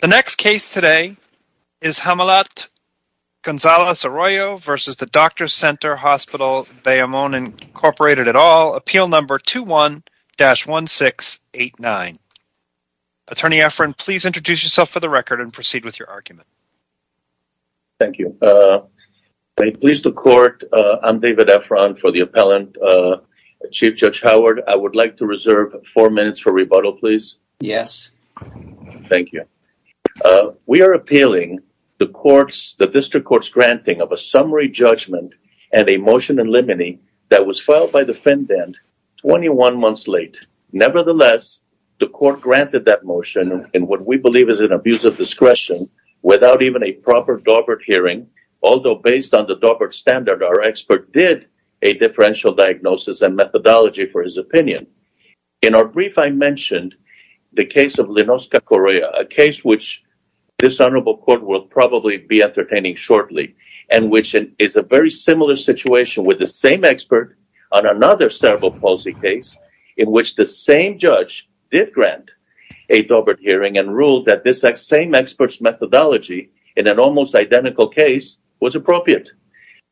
The next case today is Hamilat Gonzales-Arroyo v. Doctors' Center Hospital Bayamon, Inc. Appeal No. 21-1689. Attorney Efron, please introduce yourself for the record and proceed with your argument. Thank you. Please, the court, I'm David Efron for the appellant. Chief Judge Howard, I would like to reserve four minutes for rebuttal, please. Yes. Thank you. We are appealing the district court's granting of a summary judgment and a motion in limine that was filed by the defendant 21 months late. Nevertheless, the court granted that motion in what we believe is an abuse of discretion without even a proper Daubert hearing, although based on the Daubert standard, our expert did a differential diagnosis and methodology for his opinion. In our brief, I mentioned the case of Linosca Correa, a case which this honorable court will probably be entertaining shortly and which is a very similar situation with the same expert on another cerebral palsy case in which the same judge did grant a Daubert hearing and ruled that this same expert's methodology in an almost identical case was appropriate.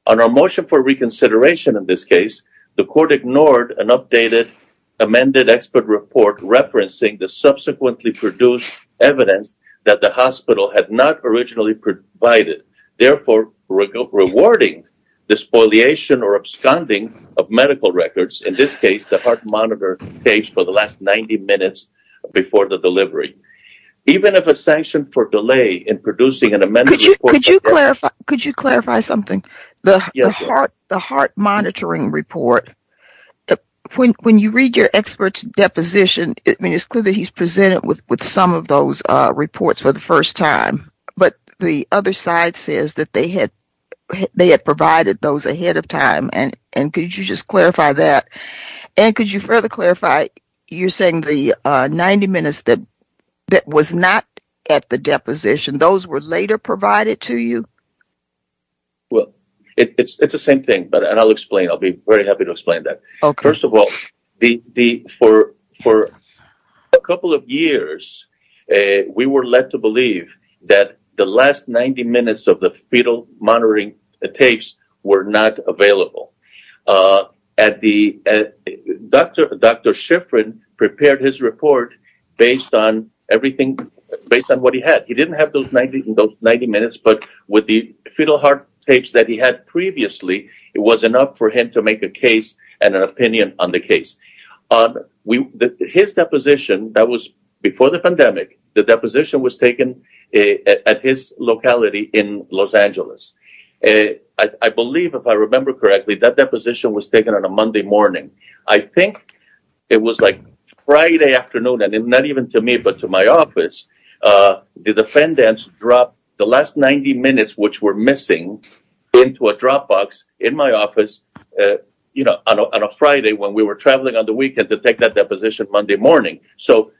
On our motion for reconsideration in this case, the court ignored an updated amended expert report referencing the subsequently produced evidence that the hospital had not originally provided, therefore rewarding the spoliation or absconding of medical records, in this case the heart monitor page for the last 90 minutes before the delivery. Even if a sanction for delay in producing an amended report… Could you clarify something? The heart monitoring report, when you read your expert's deposition, it's clear that he's presented with some of those reports for the first time, but the other side says that they had provided those ahead of time, and could you just clarify that? And could you further clarify, you're saying the 90 minutes that was not at the deposition, those were later provided to you? Well, it's the same thing, and I'll be very happy to explain that. First of all, for a couple of years, we were led to believe that the last 90 minutes of the fetal monitoring tapes were not available. Dr. Shiffrin prepared his report based on what he had. He didn't have those 90 minutes, but with the fetal heart tapes that he had previously, it was enough for him to make a case and an opinion on the case. His deposition, that was before the pandemic, the deposition was taken at his locality in Los Angeles. I believe, if I remember correctly, that deposition was taken on a Monday morning. I think it was like Friday afternoon, and not even to me, but to my office. The defendants dropped the last 90 minutes, which were missing, into a drop box in my office on a Friday when we were traveling on the weekend to take that deposition Monday morning. So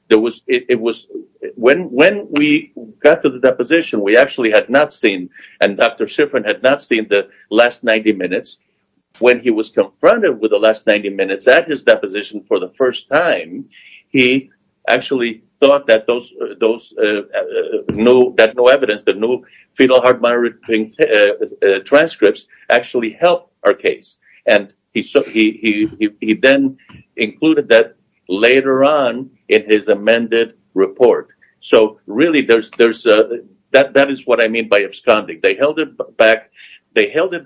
when we got to the deposition, we actually had not seen, and Dr. Shiffrin had not seen the last 90 minutes. When he was confronted with the last 90 minutes at his deposition for the first time, he actually thought that no evidence, that no fetal heart monitoring transcripts actually helped our case. He then included that later on in his amended report. So really, that is what I mean by absconding. They held it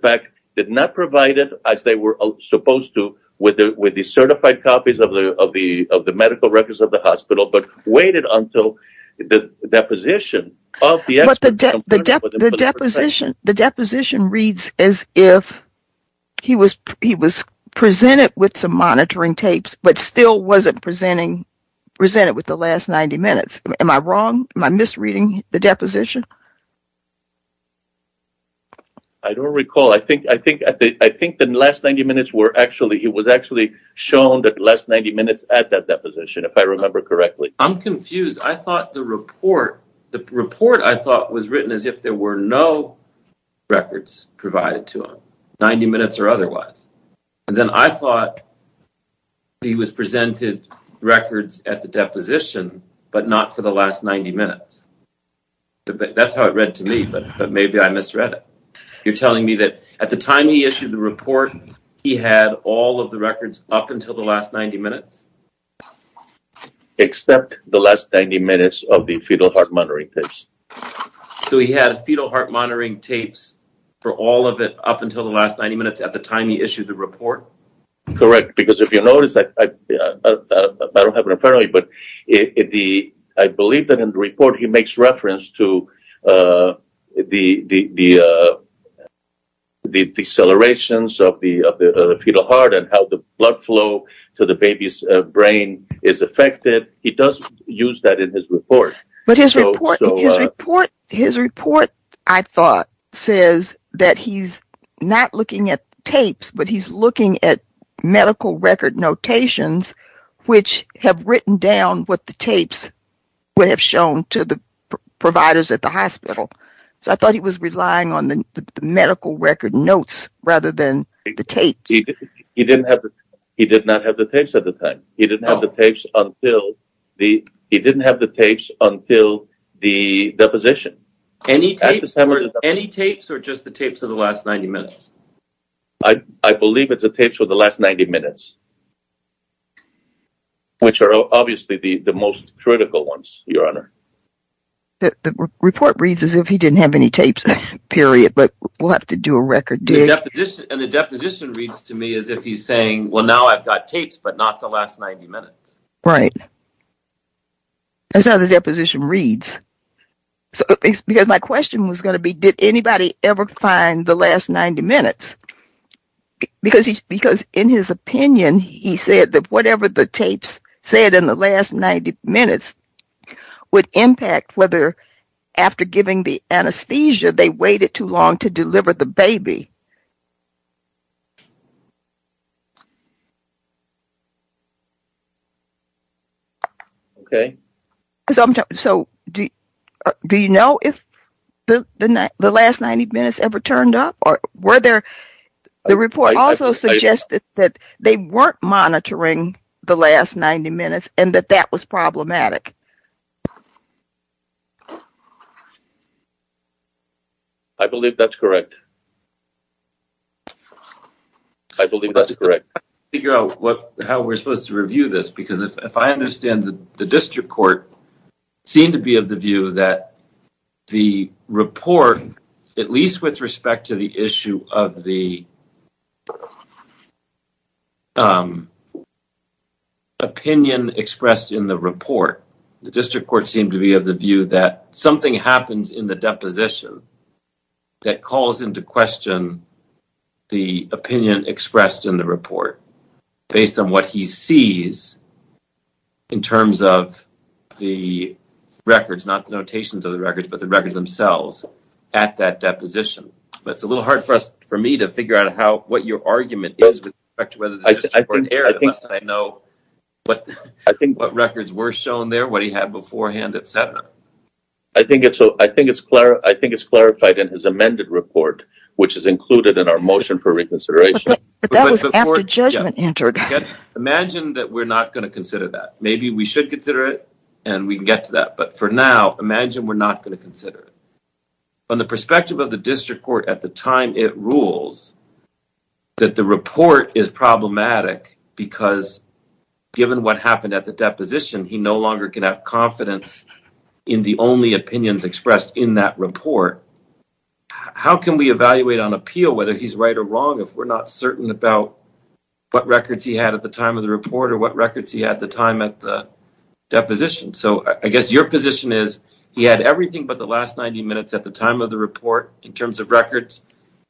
back, did not provide it as they were supposed to with the certified copies of the medical records of the hospital, but waited until the deposition. But the deposition reads as if he was presented with some monitoring tapes, but still was not presented with the last 90 minutes. Am I wrong? Am I misreading the deposition? I do not recall. I think the last 90 minutes were actually, it was actually shown that the last 90 minutes at that deposition, if I remember correctly. I am confused. I thought the report, the report I thought was written as if there were no records provided to him, 90 minutes or otherwise. Then I thought he was presented records at the deposition, but not for the last 90 minutes. That is how it read to me, but maybe I misread it. You are telling me that at the time he issued the report, he had all of the records up until the last 90 minutes? Except the last 90 minutes of the fetal heart monitoring tapes. So he had fetal heart monitoring tapes for all of it up until the last 90 minutes at the time he issued the report? Correct, because if you notice, I do not have it in front of me, but I believe that in the report he makes reference to the decelerations of the fetal heart and how the blood flow to the baby's brain is affected. He does use that in his report. His report, I thought, says that he is not looking at tapes, but he is looking at medical record notations which have written down what the tapes would have shown to the providers at the hospital. So I thought he was relying on the medical record notes rather than the tapes. He did not have the tapes at the time. He did not have the tapes until the deposition. Any tapes or just the tapes of the last 90 minutes? I believe it is the tapes of the last 90 minutes, which are obviously the most critical ones, Your Honor. The report reads as if he did not have any tapes, period, but we will have to do a record dig. And the deposition reads to me as if he is saying, well, now I have got tapes, but not the last 90 minutes. Right. That is how the deposition reads. Because my question was going to be, did anybody ever find the last 90 minutes? Because in his opinion, he said that whatever the tapes said in the last 90 minutes would impact whether after giving the anesthesia they waited too long to deliver the baby. Okay. So do you know if the last 90 minutes ever turned up? The report also suggested that they were not monitoring the last 90 minutes and that that was problematic. I believe that is correct. I am trying to figure out how we are supposed to review this, because if I understand, the district court seemed to be of the view that the report, at least with respect to the issue of the opinion expressed in the report, the district court seemed to be of the view that something happens in the deposition that calls into question the opinion expressed in the report based on what he sees in terms of the records, not the notations of the records, but the records themselves at that deposition. It is a little hard for me to figure out what your argument is with respect to whether the district court erred, unless I know what records were shown there, what he had beforehand, etc. I think it is clarified in his amended report, which is included in our motion for reconsideration. But that was after judgment entered. Imagine that we are not going to consider that. Maybe we should consider it and we can get to that, but for now, imagine we are not going to consider it. From the perspective of the district court at the time it rules, that the report is problematic because given what happened at the deposition, he no longer can have confidence in the only opinions expressed in that report. How can we evaluate on appeal whether he is right or wrong if we are not certain about what records he had at the time of the report or what records he had at the time of the deposition? So I guess your position is he had everything but the last 90 minutes at the time of the report in terms of records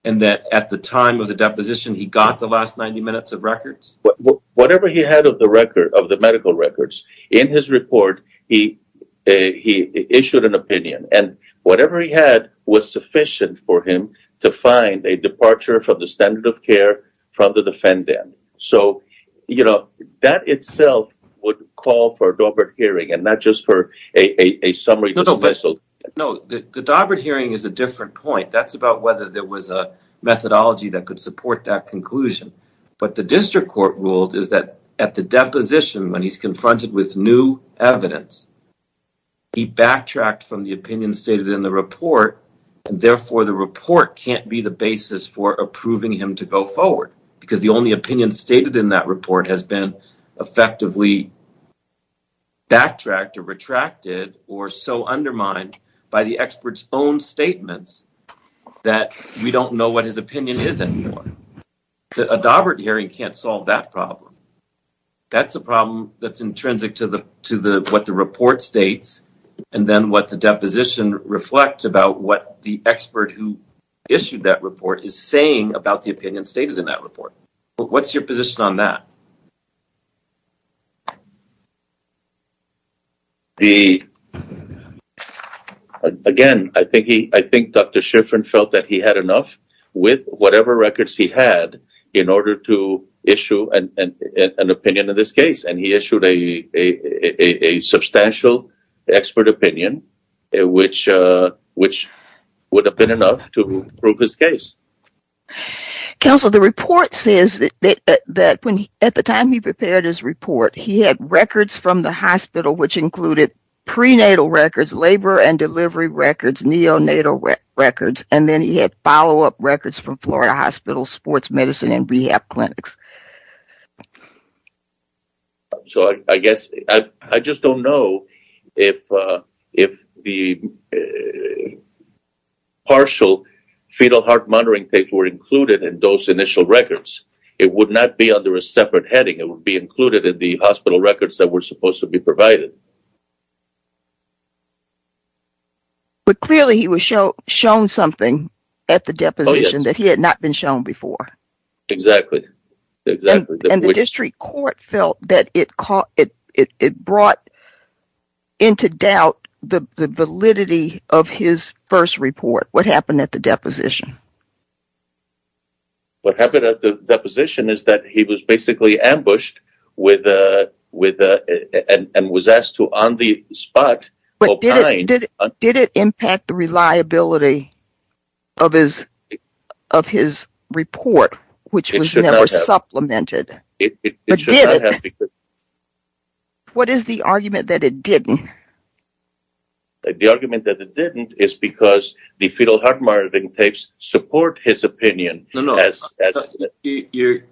and that at the time of the deposition he got the last 90 minutes of records? Whatever he had of the medical records, in his report he issued an opinion and whatever he had was sufficient for him to find a departure from the standard of care from the defendant. So that itself would call for a Daubert hearing and not just for a summary. No, the Daubert hearing is a different point. That is about whether there was a methodology that could support that conclusion. But the district court ruled that at the deposition when he is confronted with new evidence, he backtracked from the opinion stated in the report. Therefore, the report cannot be the basis for approving him to go forward because the only opinion stated in that report has been effectively backtracked or retracted or so undermined by the expert's own statements that we don't know what his opinion is anymore. A Daubert hearing cannot solve that problem. That is a problem that is intrinsic to what the report states and then what the deposition reflects about what the expert who issued that report is saying about the opinion stated in that report. What is your position on that? Again, I think Dr. Shiffrin felt that he had enough with whatever records he had in order to issue an opinion in this case and he issued a substantial expert opinion which would have been enough to prove his case. Counselor, the report says that at the time he prepared his report, he had records from the hospital which included prenatal records, labor and delivery records, neonatal records, and then he had follow-up records from Florida Hospital, sports medicine, and rehab clinics. I just don't know if the partial fetal heart monitoring tapes were included in those initial records. It would not be under a separate heading. It would be included in the hospital records that were supposed to be provided. Clearly, he was shown something at the deposition that he had not been shown before. Exactly. The district court felt that it brought into doubt the validity of his first report. What happened at the deposition? What happened at the deposition is that he was basically ambushed and was asked to, on the spot... Did it impact the reliability of his report, which was never supplemented? It should not have. What is the argument that it didn't? The argument that it didn't is because the fetal heart monitoring tapes support his opinion. The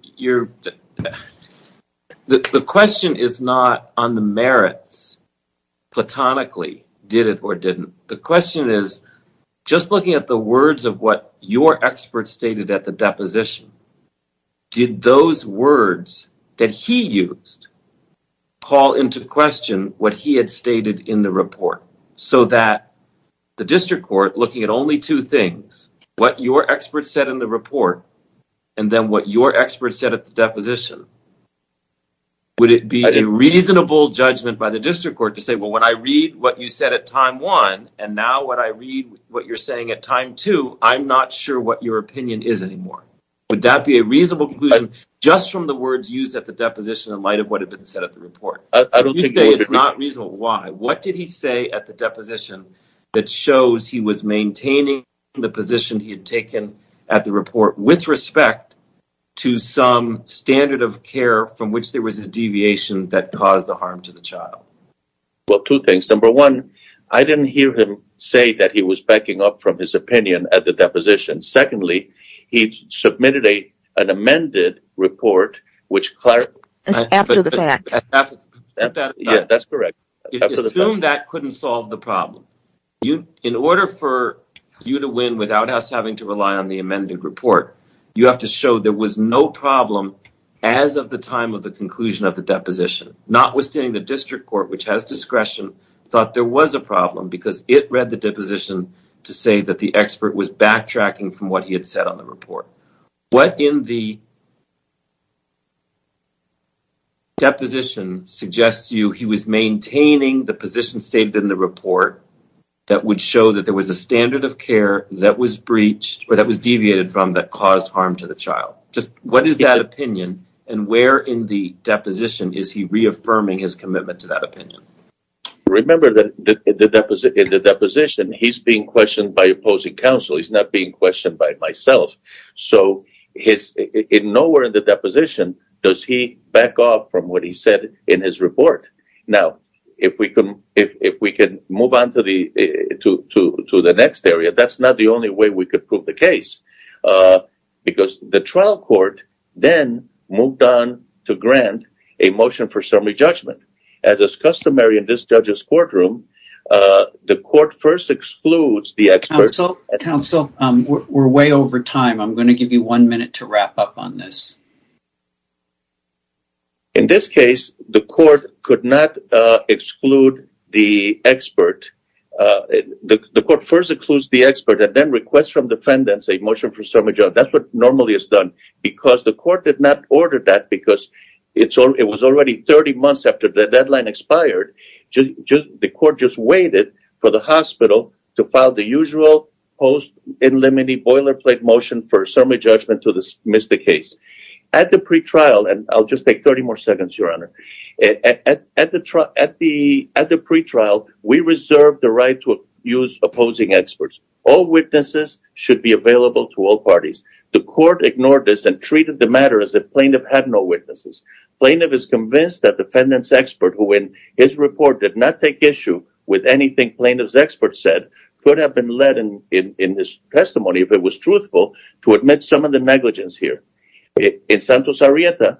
question is not on the merits, platonically, did it or didn't. The question is, just looking at the words of what your expert stated at the deposition, did those words that he used call into question what he had stated in the report? So that the district court, looking at only two things, what your expert said in the report, and then what your expert said at the deposition, would it be a reasonable judgment by the district court to say, well, when I read what you said at time one, and now when I read what you're saying at time two, I'm not sure what your opinion is anymore. Would that be a reasonable conclusion just from the words used at the deposition in light of what had been said at the report? I don't think it would be reasonable. If you say it's not reasonable, why? What did he say at the deposition that shows he was maintaining the position he had taken at the report with respect to some standard of care from which there was a deviation that caused the harm to the child? Well, two things. Number one, I didn't hear him say that he was backing up from his opinion at the deposition. Secondly, he submitted an amended report, which… That's correct. Assume that couldn't solve the problem. In order for you to win without us having to rely on the amended report, you have to show there was no problem as of the time of the conclusion of the deposition. Notwithstanding the district court, which has discretion, thought there was a problem because it read the deposition to say that the expert was backtracking from what he had said on the report. What in the deposition suggests to you he was maintaining the position stated in the report that would show that there was a standard of care that was breached or that was deviated from that caused harm to the child? What is that opinion and where in the deposition is he reaffirming his commitment to that opinion? Remember that in the deposition, he's being questioned by opposing counsel. He's not being questioned by myself. So, nowhere in the deposition does he back off from what he said in his report. Now, if we can move on to the next area, that's not the only way we can prove the case because the trial court then moved on to grant a motion for summary judgment. As is customary in this judge's courtroom, the court first excludes the expert… Counsel, we're way over time. I'm going to give you one minute to wrap up on this. In this case, the court could not exclude the expert. The court first excludes the expert and then requests from defendants a motion for summary judgment. That's what normally is done because the court did not order that because it was already 30 months after the deadline expired. The court just waited for the hospital to file the usual post in limine boilerplate motion for summary judgment to dismiss the case. At the pre-trial, and I'll just take 30 more seconds, Your Honor. At the pre-trial, we reserved the right to use opposing experts. All witnesses should be available to all parties. The court ignored this and treated the matter as if plaintiff had no witnesses. Plaintiff is convinced that defendant's expert, who in his report did not take issue with anything plaintiff's expert said, could have been led in his testimony, if it was truthful, to admit some of the negligence here. In Santos-Arieta,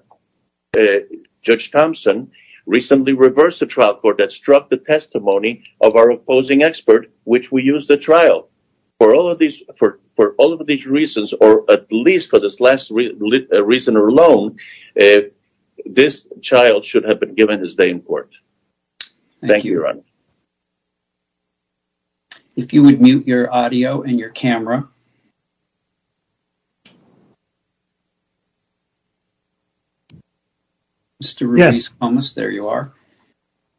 Judge Thompson recently reversed the trial court that struck the testimony of our opposing expert, which we used at trial. For all of these reasons, or at least for this last reason alone, this child should have been given his day in court. Thank you, Your Honor. If you would mute your audio and your camera. Mr. Ruiz Comas, there you are.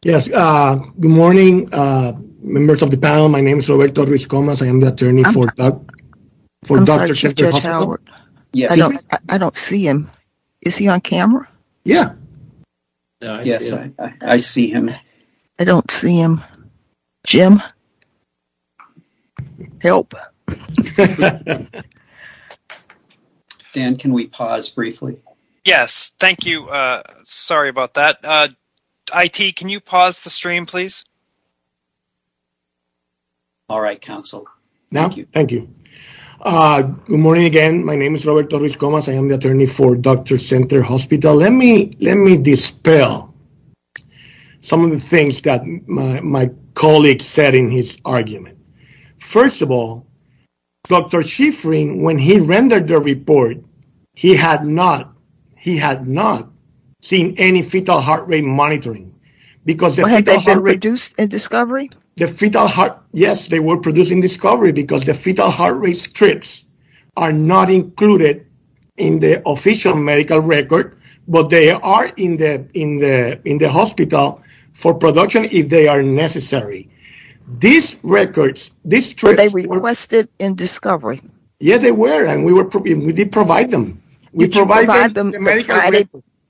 Yes. Good morning, members of the panel. My name is Roberto Ruiz Comas. I am the attorney for Dr. Chester Hospital. I'm sorry, Judge Howard. I don't see him. Is he on camera? Yeah. Yes, I see him. I don't see him. Jim, help. Dan, can we pause briefly? Yes, thank you. Sorry about that. IT, can you pause the stream, please? All right, counsel. Thank you. Good morning again. My name is Roberto Ruiz Comas. I am the attorney for Dr. Center Hospital. Let me dispel some of the things that my colleague said in his argument. First of all, Dr. Shiffrin, when he rendered the report, he had not seen any fetal heart rate monitoring. Had they been produced in discovery? Yes, they were produced in discovery because the fetal heart rate strips are not included in the official medical record, but they are in the hospital for production if they are necessary. Were they requested in discovery? Yes, they were, and we did provide them.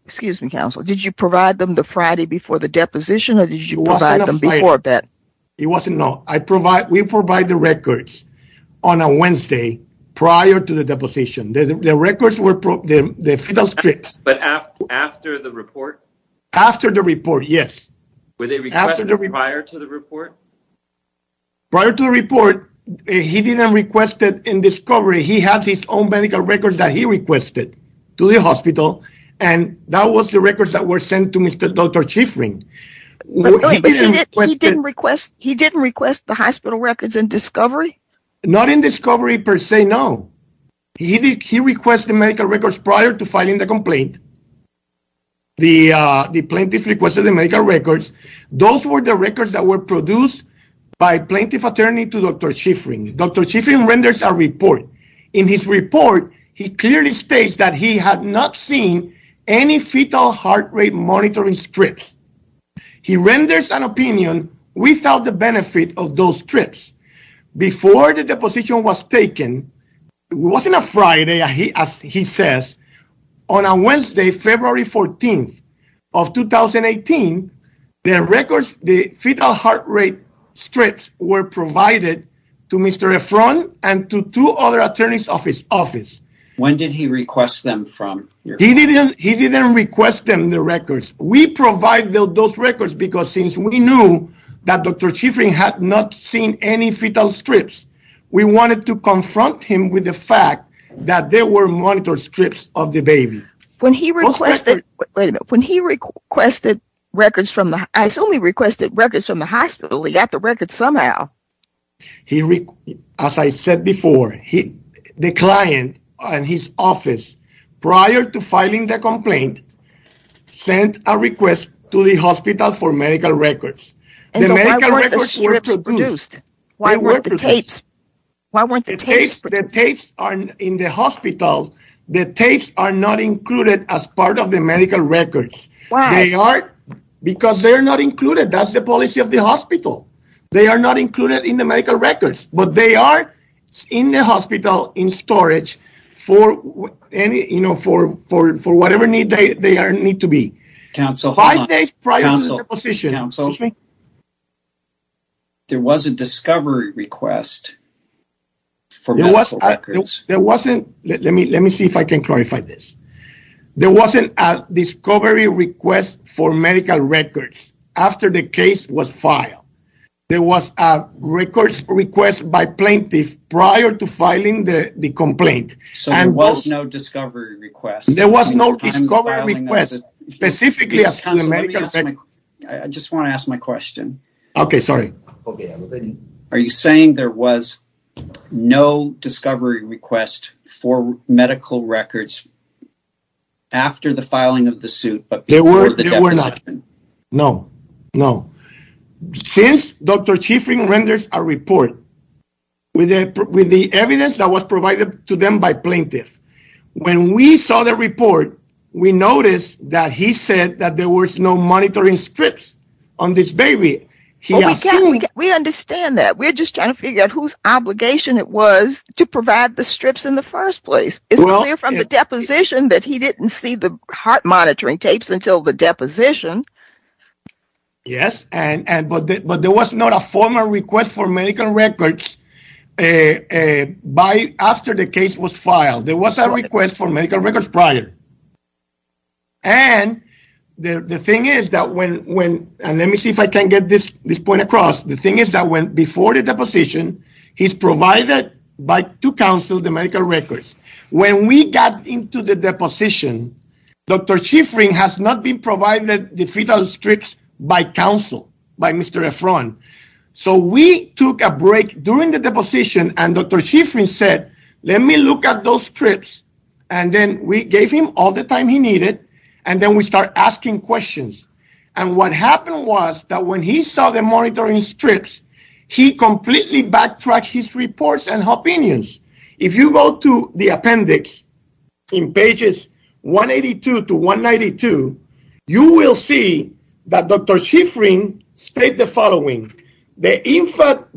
Excuse me, counsel. Did you provide them the Friday before the deposition, or did you provide them before that? It was not. We provide the records on a Wednesday prior to the deposition. The records were the fetal strips. But after the report? After the report, yes. Were they requested prior to the report? Prior to the report, he didn't request it in discovery. He had his own medical records that he requested to the hospital, and that was the records that were sent to Dr. Shiffrin. He didn't request the hospital records in discovery? Not in discovery per se, no. He requested medical records prior to filing the complaint. The plaintiff requested the medical records. Those were the records that were produced by plaintiff attorney to Dr. Shiffrin. Dr. Shiffrin renders a report. In his report, he clearly states that he had not seen any fetal heart rate monitoring strips. He renders an opinion without the benefit of those strips. Before the deposition was taken, it wasn't a Friday, as he says. On a Wednesday, February 14th of 2018, the fetal heart rate strips were provided to Mr. Efron and to two other attorneys of his office. When did he request them from your office? He didn't request them, the records. We provided those records because since we knew that Dr. Shiffrin had not seen any fetal strips, we wanted to confront him with the fact that there were monitor strips of the baby. When he requested records from the hospital, he got the records somehow. As I said before, the client and his office, prior to filing the complaint, sent a request to the hospital for medical records. The medical records were produced. Why weren't the tapes produced? The tapes are in the hospital. The tapes are not included as part of the medical records. Why? That's the policy of the hospital. They are not included in the medical records, but they are in the hospital in storage for whatever need they need to be. Council, hold on. Five days prior to the deposition. Excuse me? There was a discovery request for medical records. There wasn't. Let me see if I can clarify this. There wasn't a discovery request for medical records after the case was filed. There was a record request by plaintiffs prior to filing the complaint. So there was no discovery request? There was no discovery request, specifically as to the medical records. I just want to ask my question. Okay, sorry. Are you saying there was no discovery request for medical records after the filing of the suit, but before the deposition? No, no. Since Dr. Chifrin renders a report with the evidence that was provided to them by plaintiffs, when we saw the report, we noticed that he said that there was no monitoring strips on this baby. We understand that. We're just trying to figure out whose obligation it was to provide the strips in the first place. It's clear from the deposition that he didn't see the heart monitoring tapes until the deposition. Yes, but there was not a formal request for medical records after the case was filed. There was a request for medical records prior. And the thing is that when, and let me see if I can get this point across, the thing is that before the deposition, he's provided to counsel the medical records. When we got into the deposition, Dr. Chifrin has not been provided the fetal strips by counsel, by Mr. Efron. So we took a break during the deposition and Dr. Chifrin said, let me look at those strips. And then we gave him all the time he needed. And then we start asking questions. And what happened was that when he saw the monitoring strips, he completely backtracked his reports and opinions. If you go to the appendix in pages 182 to 192, you will see that Dr. Chifrin state the following. The infant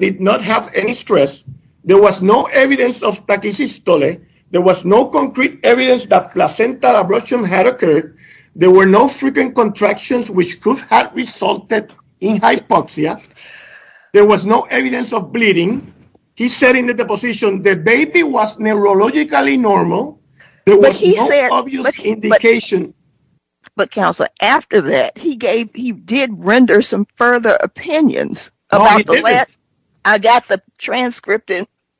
did not have any stress. There was no evidence of tachycystole. There was no concrete evidence that placental abruption had occurred. There were no frequent contractions which could have resulted in hypoxia. There was no evidence of bleeding. He said in the deposition the baby was neurologically normal. There was no obvious indication. But, counselor, after that, he did render some further opinions. No, he didn't. I got the transcript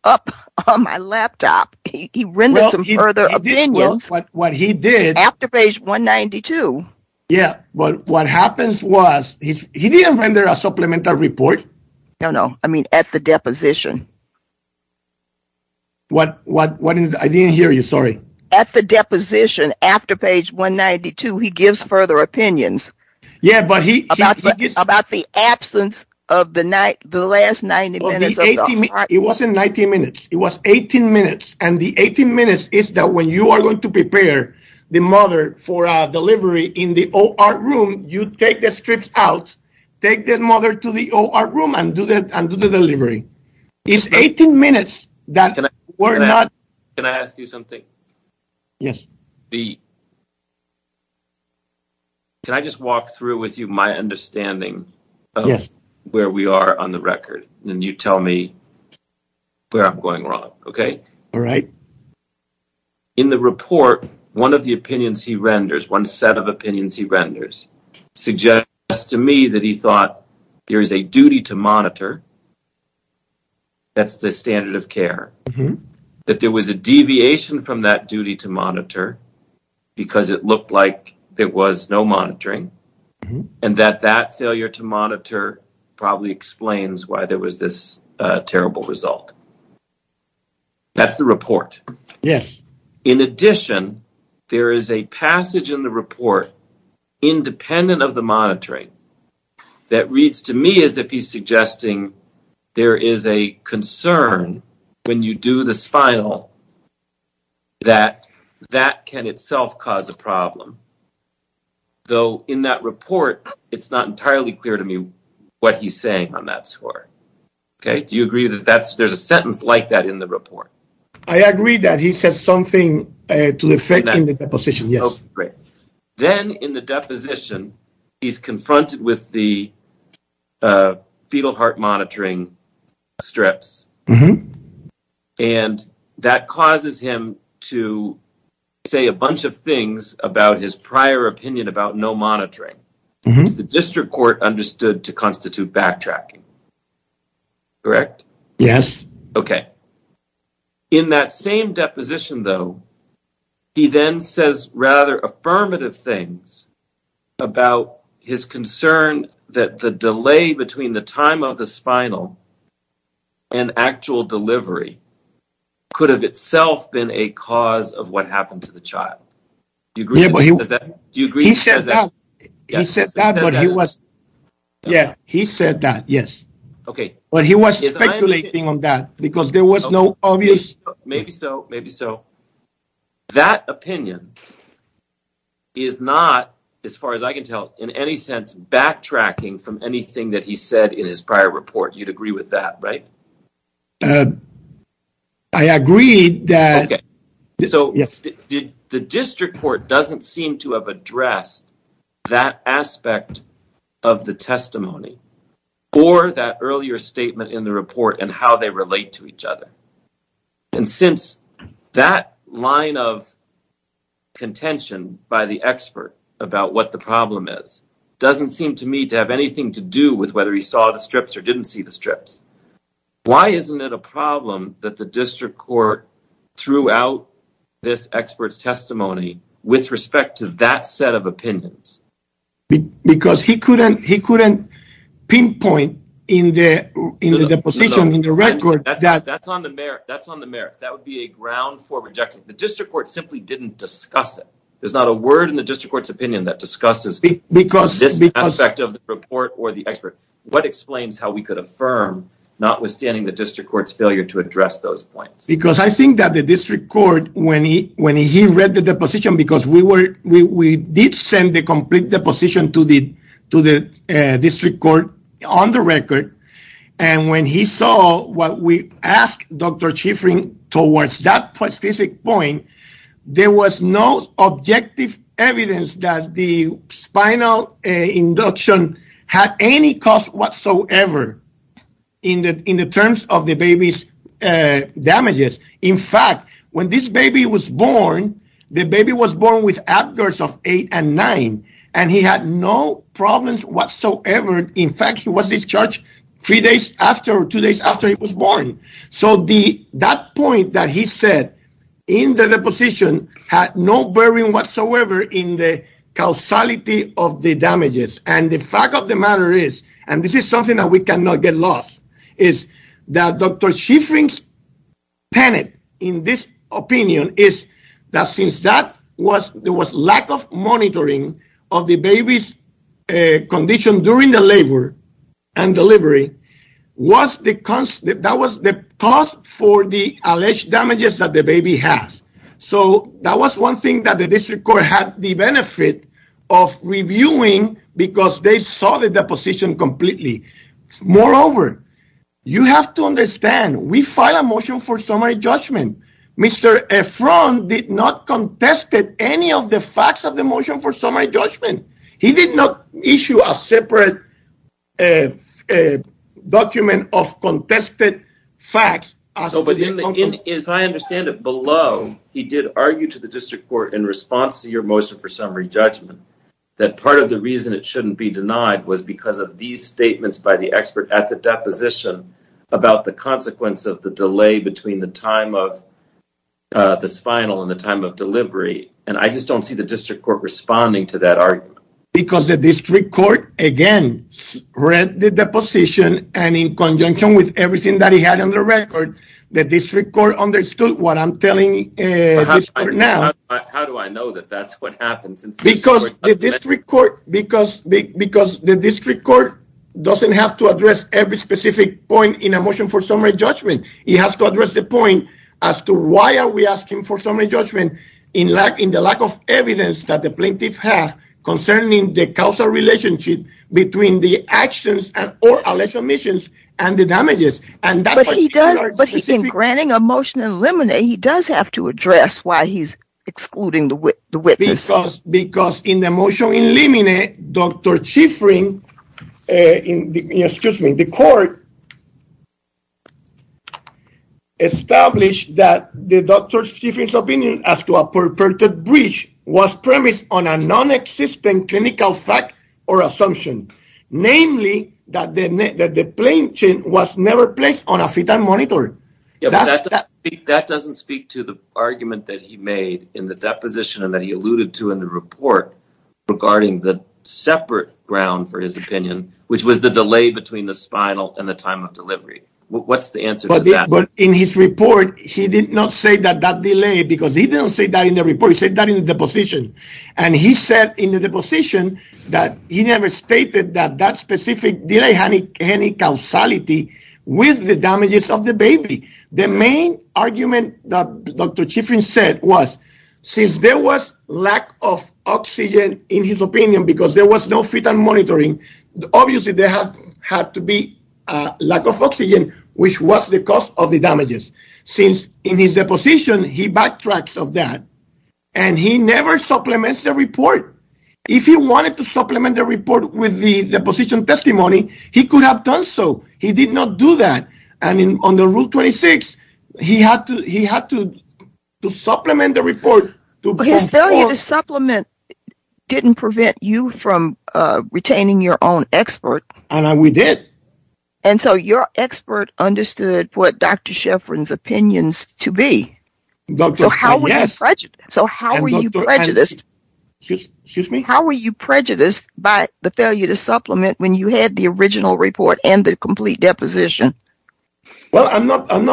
up on my laptop. He rendered some further opinions. Well, what he did. After page 192. Yeah, but what happens was he didn't render a supplemental report. No, no. I mean at the deposition. What? I didn't hear you. Sorry. At the deposition after page 192, he gives further opinions. Yeah, but he. About the absence of the last 90 minutes. It wasn't 90 minutes. It was 18 minutes. And the 18 minutes is that when you are going to prepare the mother for delivery in the OR room, you take the strips out, take the mother to the OR room, and do the delivery. It's 18 minutes that were not. Can I ask you something? Yes. Can I just walk through with you my understanding of where we are on the record? And you tell me where I'm going wrong, okay? All right. In the report, one of the opinions he renders, one set of opinions he renders, suggests to me that he thought there is a duty to monitor. That's the standard of care. That there was a deviation from that duty to monitor because it looked like there was no monitoring. And that that failure to monitor probably explains why there was this terrible result. That's the report. Yes. In addition, there is a passage in the report, independent of the monitoring, that reads to me as if he's suggesting there is a concern when you do the spinal that that can itself cause a problem. Though in that report, it's not entirely clear to me what he's saying on that score. Okay? Do you agree that there's a sentence like that in the report? I agree that he says something to the effect in the deposition, yes. Great. Then in the deposition, he's confronted with the fetal heart monitoring strips. Mm-hmm. And that causes him to say a bunch of things about his prior opinion about no monitoring. The district court understood to constitute backtracking. Correct? Yes. Okay. In that same deposition, though, he then says rather affirmative things about his concern that the delay between the time of the spinal and actual delivery could have itself been a cause of what happened to the child. Do you agree with that? He said that, but he was speculating on that, because there was no obvious... Maybe so, maybe so. That opinion is not, as far as I can tell, in any sense backtracking from anything that he said in his prior report. You'd agree with that, right? I agree that... Okay. So the district court doesn't seem to have addressed that aspect of the testimony or that earlier statement in the report and how they relate to each other. And since that line of contention by the expert about what the problem is doesn't seem to me to have anything to do with whether he saw the strips or didn't see the strips, why isn't it a problem that the district court threw out this expert's testimony with respect to that set of opinions? Because he couldn't pinpoint in the deposition, in the record... That's on the merits. That would be a ground for rejection. The district court simply didn't discuss it. There's not a word in the district court's opinion that discusses this aspect of the report or the expert. What explains how we could affirm notwithstanding the district court's failure to address those points? Because I think that the district court, when he read the deposition, because we did send the complete deposition to the district court on the record, and when he saw what we asked Dr. Chifrin towards that specific point, there was no objective evidence that the spinal induction had any cost whatsoever in the terms of the baby's damages. In fact, when this baby was born, the baby was born with AbGers of 8 and 9, and he had no problems whatsoever. In fact, he was discharged three days after or two days after he was born. So that point that he said in the deposition had no bearing whatsoever in the causality of the damages. And the fact of the matter is, and this is something that we cannot get lost, is that Dr. Chifrin's panic in this opinion is that since there was lack of monitoring of the baby's condition during the labor and delivery, that was the cause for the alleged damages that the baby has. So that was one thing that the district court had the benefit of reviewing because they saw the deposition completely. Moreover, you have to understand, we filed a motion for summary judgment. Mr. Efron did not contest any of the facts of the motion for summary judgment. He did not issue a separate document of contested facts. As I understand it below, he did argue to the district court in response to your motion for summary judgment, that part of the reason it shouldn't be denied was because of these statements by the expert at the deposition about the consequence of the delay between the time of the spinal and the time of delivery. And I just don't see the district court responding to that argument. Because the district court, again, read the deposition and in conjunction with everything that he had on the record, the district court understood what I'm telling you now. How do I know that that's what happens? Because the district court doesn't have to address every specific point in a motion for summary judgment. It has to address the point as to why are we asking for summary judgment in the lack of evidence that the plaintiff has concerning the causal relationship between the actions or alleged omissions and the damages. But in granting a motion in limine, he does have to address why he's excluding the witness. Because in the motion in limine, Dr. Chiffrin, excuse me, the court established that Dr. Chiffrin's opinion as to a perverted breach was premised on a non-existent clinical fact or assumption. Namely, that the plaintiff was never placed on a fetal monitor. That doesn't speak to the argument that he made in the deposition and that he alluded to in the report regarding the separate ground for his opinion, which was the delay between the spinal and the time of delivery. What's the answer to that? In his report, he did not say that that delay, because he didn't say that in the report. He said that in the deposition. And he said in the deposition that he never stated that that specific delay had any causality with the damages of the baby. The main argument that Dr. Chiffrin said was, since there was lack of oxygen in his opinion because there was no fetal monitoring, obviously there had to be a lack of oxygen, which was the cause of the damages. Since in his deposition, he backtracks of that. And he never supplements the report. If he wanted to supplement the report with the deposition testimony, he could have done so. He did not do that. And under Rule 26, he had to supplement the report. His failure to supplement didn't prevent you from retaining your own expert. And we did. And so your expert understood what Dr. Chiffrin's opinions to be. So how were you prejudiced by the failure to supplement when you had the original report and the complete deposition? Well, I'm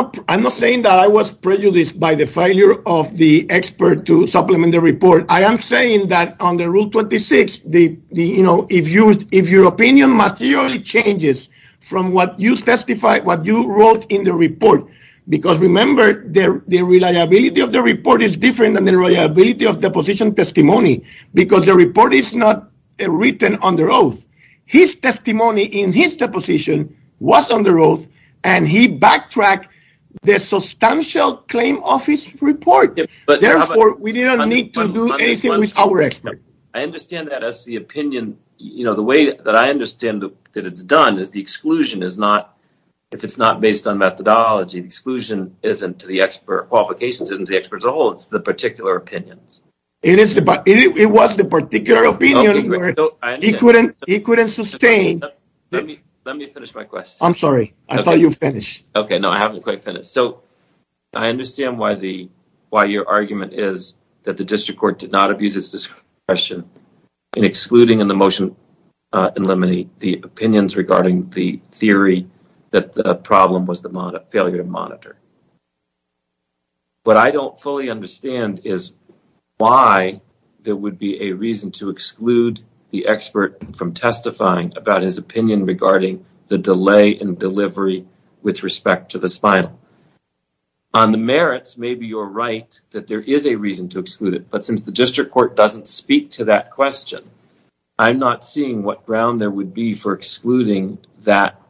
not saying that I was prejudiced by the failure of the expert to supplement the report. I am saying that under Rule 26, if your opinion materially changes from what you testified, what you wrote in the report, because remember, the reliability of the report is different than the reliability of deposition testimony, because the report is not written under oath. His testimony in his deposition was under oath, and he backtracked the substantial claim office report. Therefore, we didn't need to do anything with our expert. I understand that as the opinion. You know, the way that I understand that it's done is the exclusion is not, if it's not based on methodology, the exclusion isn't to the expert qualifications, isn't to the experts at all. It's the particular opinions. It was the particular opinion. He couldn't sustain. Let me finish my question. I'm sorry. I thought you finished. Okay. No, I haven't quite finished. I understand why your argument is that the district court did not abuse its discretion in excluding in the motion and limiting the opinions regarding the theory that the problem was the failure to monitor. What I don't fully understand is why there would be a reason to exclude the expert from testifying about his opinion regarding the delay in delivery with respect to the spinal. On the merits, maybe you're right that there is a reason to exclude it. But since the district court doesn't speak to that question, I'm not seeing what ground there would be for excluding that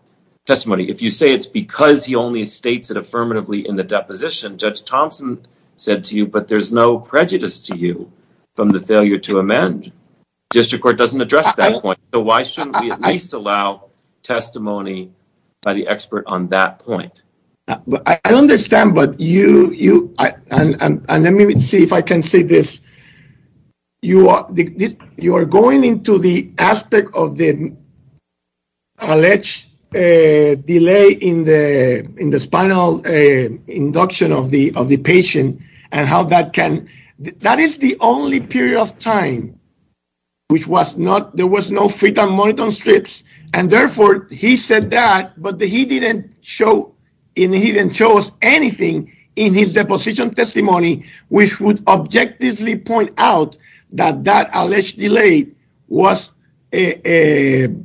testimony. If you say it's because he only states it affirmatively in the deposition, Judge Thompson said to you, but there's no prejudice to you from the failure to amend. District court doesn't address that point. So why shouldn't we at least allow testimony by the expert on that point? I understand, but you, and let me see if I can say this. You are going into the aspect of the alleged delay in the spinal induction of the patient and how that can, that is the only period of time which was not, there was no freedom on the strips. And therefore he said that, but he didn't show anything in his deposition testimony, which would objectively point out that that alleged delay was anything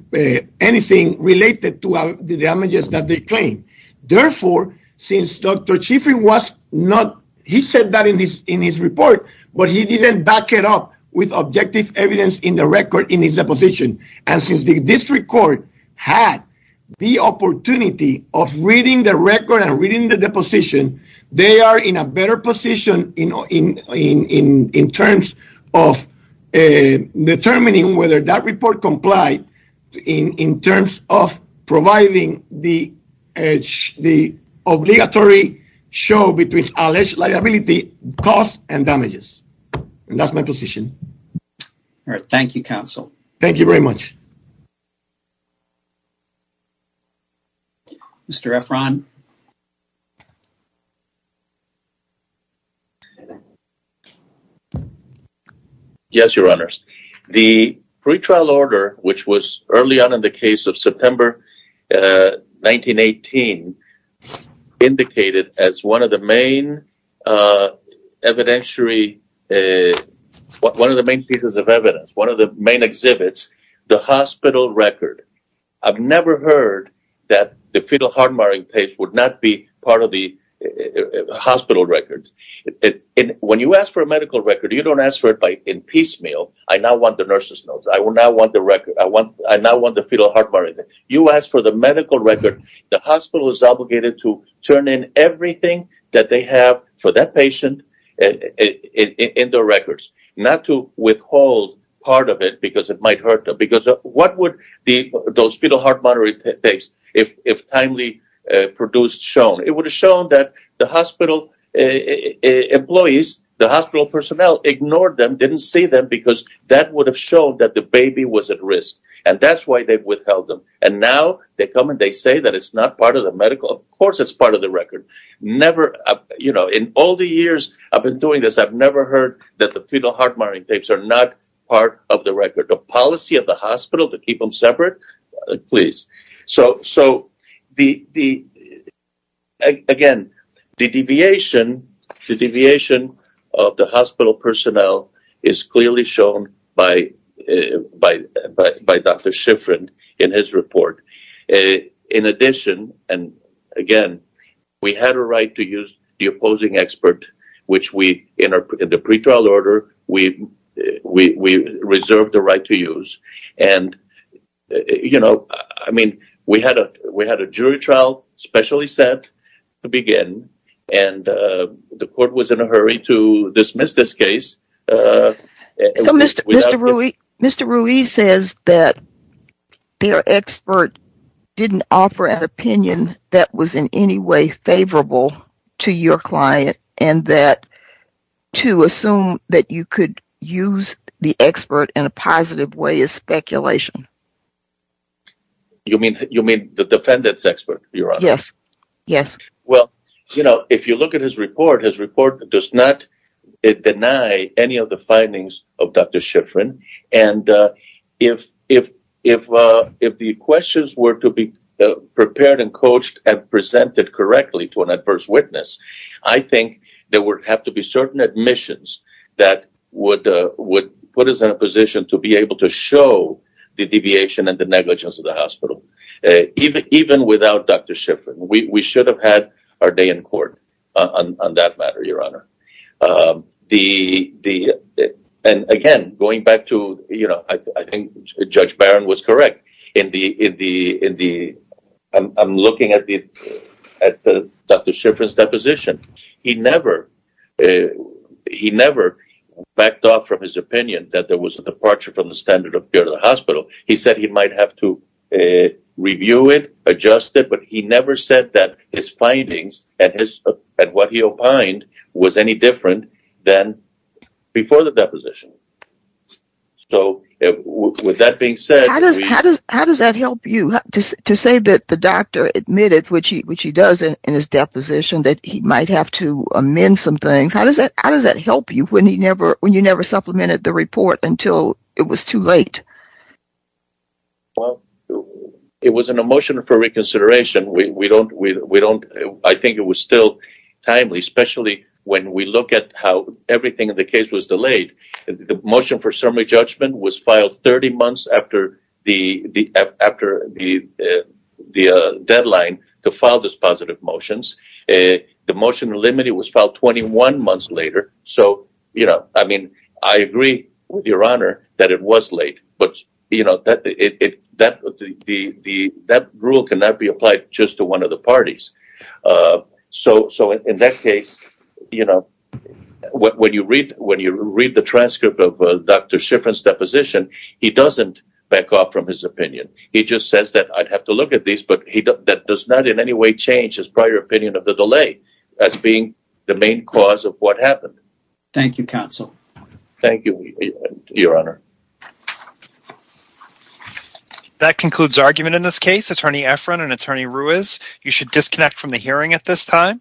related to the damages that they claim. Therefore, since Dr. Chiffrey was not, he said that in his report, but he didn't back it up with objective evidence in the record in his deposition. And since the district court had the opportunity of reading the record and reading the deposition, they are in a better position in terms of determining whether that report complied in terms of providing the obligatory show between alleged liability costs and damages. And that's my position. All right. Thank you, counsel. Thank you very much. Mr. Efron. Yes, your honors. The pretrial order, which was early on in the case of September 1918, indicated as one of the main evidentiary, one of the main pieces of evidence, one of the main exhibits, the hospital record. I've never heard that the fetal heart marring page would not be part of the hospital records. And when you ask for a medical record, you don't ask for it by in piecemeal. I now want the nurse's notes. I will now want the record. I want I now want the fetal heart. You ask for the medical record. The hospital is obligated to turn in everything that they have for that patient in their records, not to withhold part of it because it might hurt them. Because what would those fetal heart monitoring tapes, if timely produced, shown? It would have shown that the hospital employees, the hospital personnel ignored them, didn't see them because that would have shown that the baby was at risk. And that's why they've withheld them. And now they come and they say that it's not part of the medical. Of course, it's part of the record. You know, in all the years I've been doing this, I've never heard that the fetal heart monitoring tapes are not part of the record. The policy of the hospital to keep them separate. Please. So, so the the. Again, the deviation, the deviation of the hospital personnel is clearly shown by by by Dr. Shiffrin in his report. In addition, and again, we had a right to use the opposing expert, which we in the pretrial order, we we reserved the right to use. And, you know, I mean, we had a we had a jury trial specially set to begin. And the court was in a hurry to dismiss this case. So Mr. Mr. Ruiz, Mr. Ruiz says that their expert didn't offer an opinion that was in any way favorable to your client. And that to assume that you could use the expert in a positive way is speculation. You mean you mean the defendant's expert? Yes. Yes. Well, you know, if you look at his report, his report does not deny any of the findings of Dr. Shiffrin. And if if if if the questions were to be prepared and coached and presented correctly to an adverse witness, I think there would have to be certain admissions that would would put us in a position to be able to show the deviation and the negligence of the hospital. Even even without Dr. Shiffrin, we should have had our day in court on that matter, Your Honor. The the. And again, going back to, you know, I think Judge Barron was correct in the in the in the. I'm looking at the at Dr. Shiffrin's deposition. He never he never backed off from his opinion that there was a departure from the standard of the hospital. He said he might have to review it, adjust it. But he never said that his findings and his and what he opined was any different than before the deposition. So with that being said, how does how does how does that help you to say that the doctor admitted, which he which he does in his deposition, that he might have to amend some things? How does that how does that help you when he never when you never supplemented the report until it was too late? Well, it was an emotion for reconsideration. We don't we don't. I think it was still timely, especially when we look at how everything in the case was delayed. The motion for summary judgment was filed 30 months after the the after the the deadline to file this positive motions. The motion limited was filed 21 months later. So, you know, I mean, I agree with your honor that it was late. But, you know, that it that the the that rule cannot be applied just to one of the parties. So. So in that case, you know, when you read when you read the transcript of Dr. Shiffrin's deposition, he doesn't back off from his opinion. He just says that I'd have to look at this, but he does not in any way change his prior opinion of the delay as being the main cause of what happened. Thank you, counsel. Thank you, your honor. That concludes argument in this case. Attorney Efron and Attorney Ruiz, you should disconnect from the hearing at this time.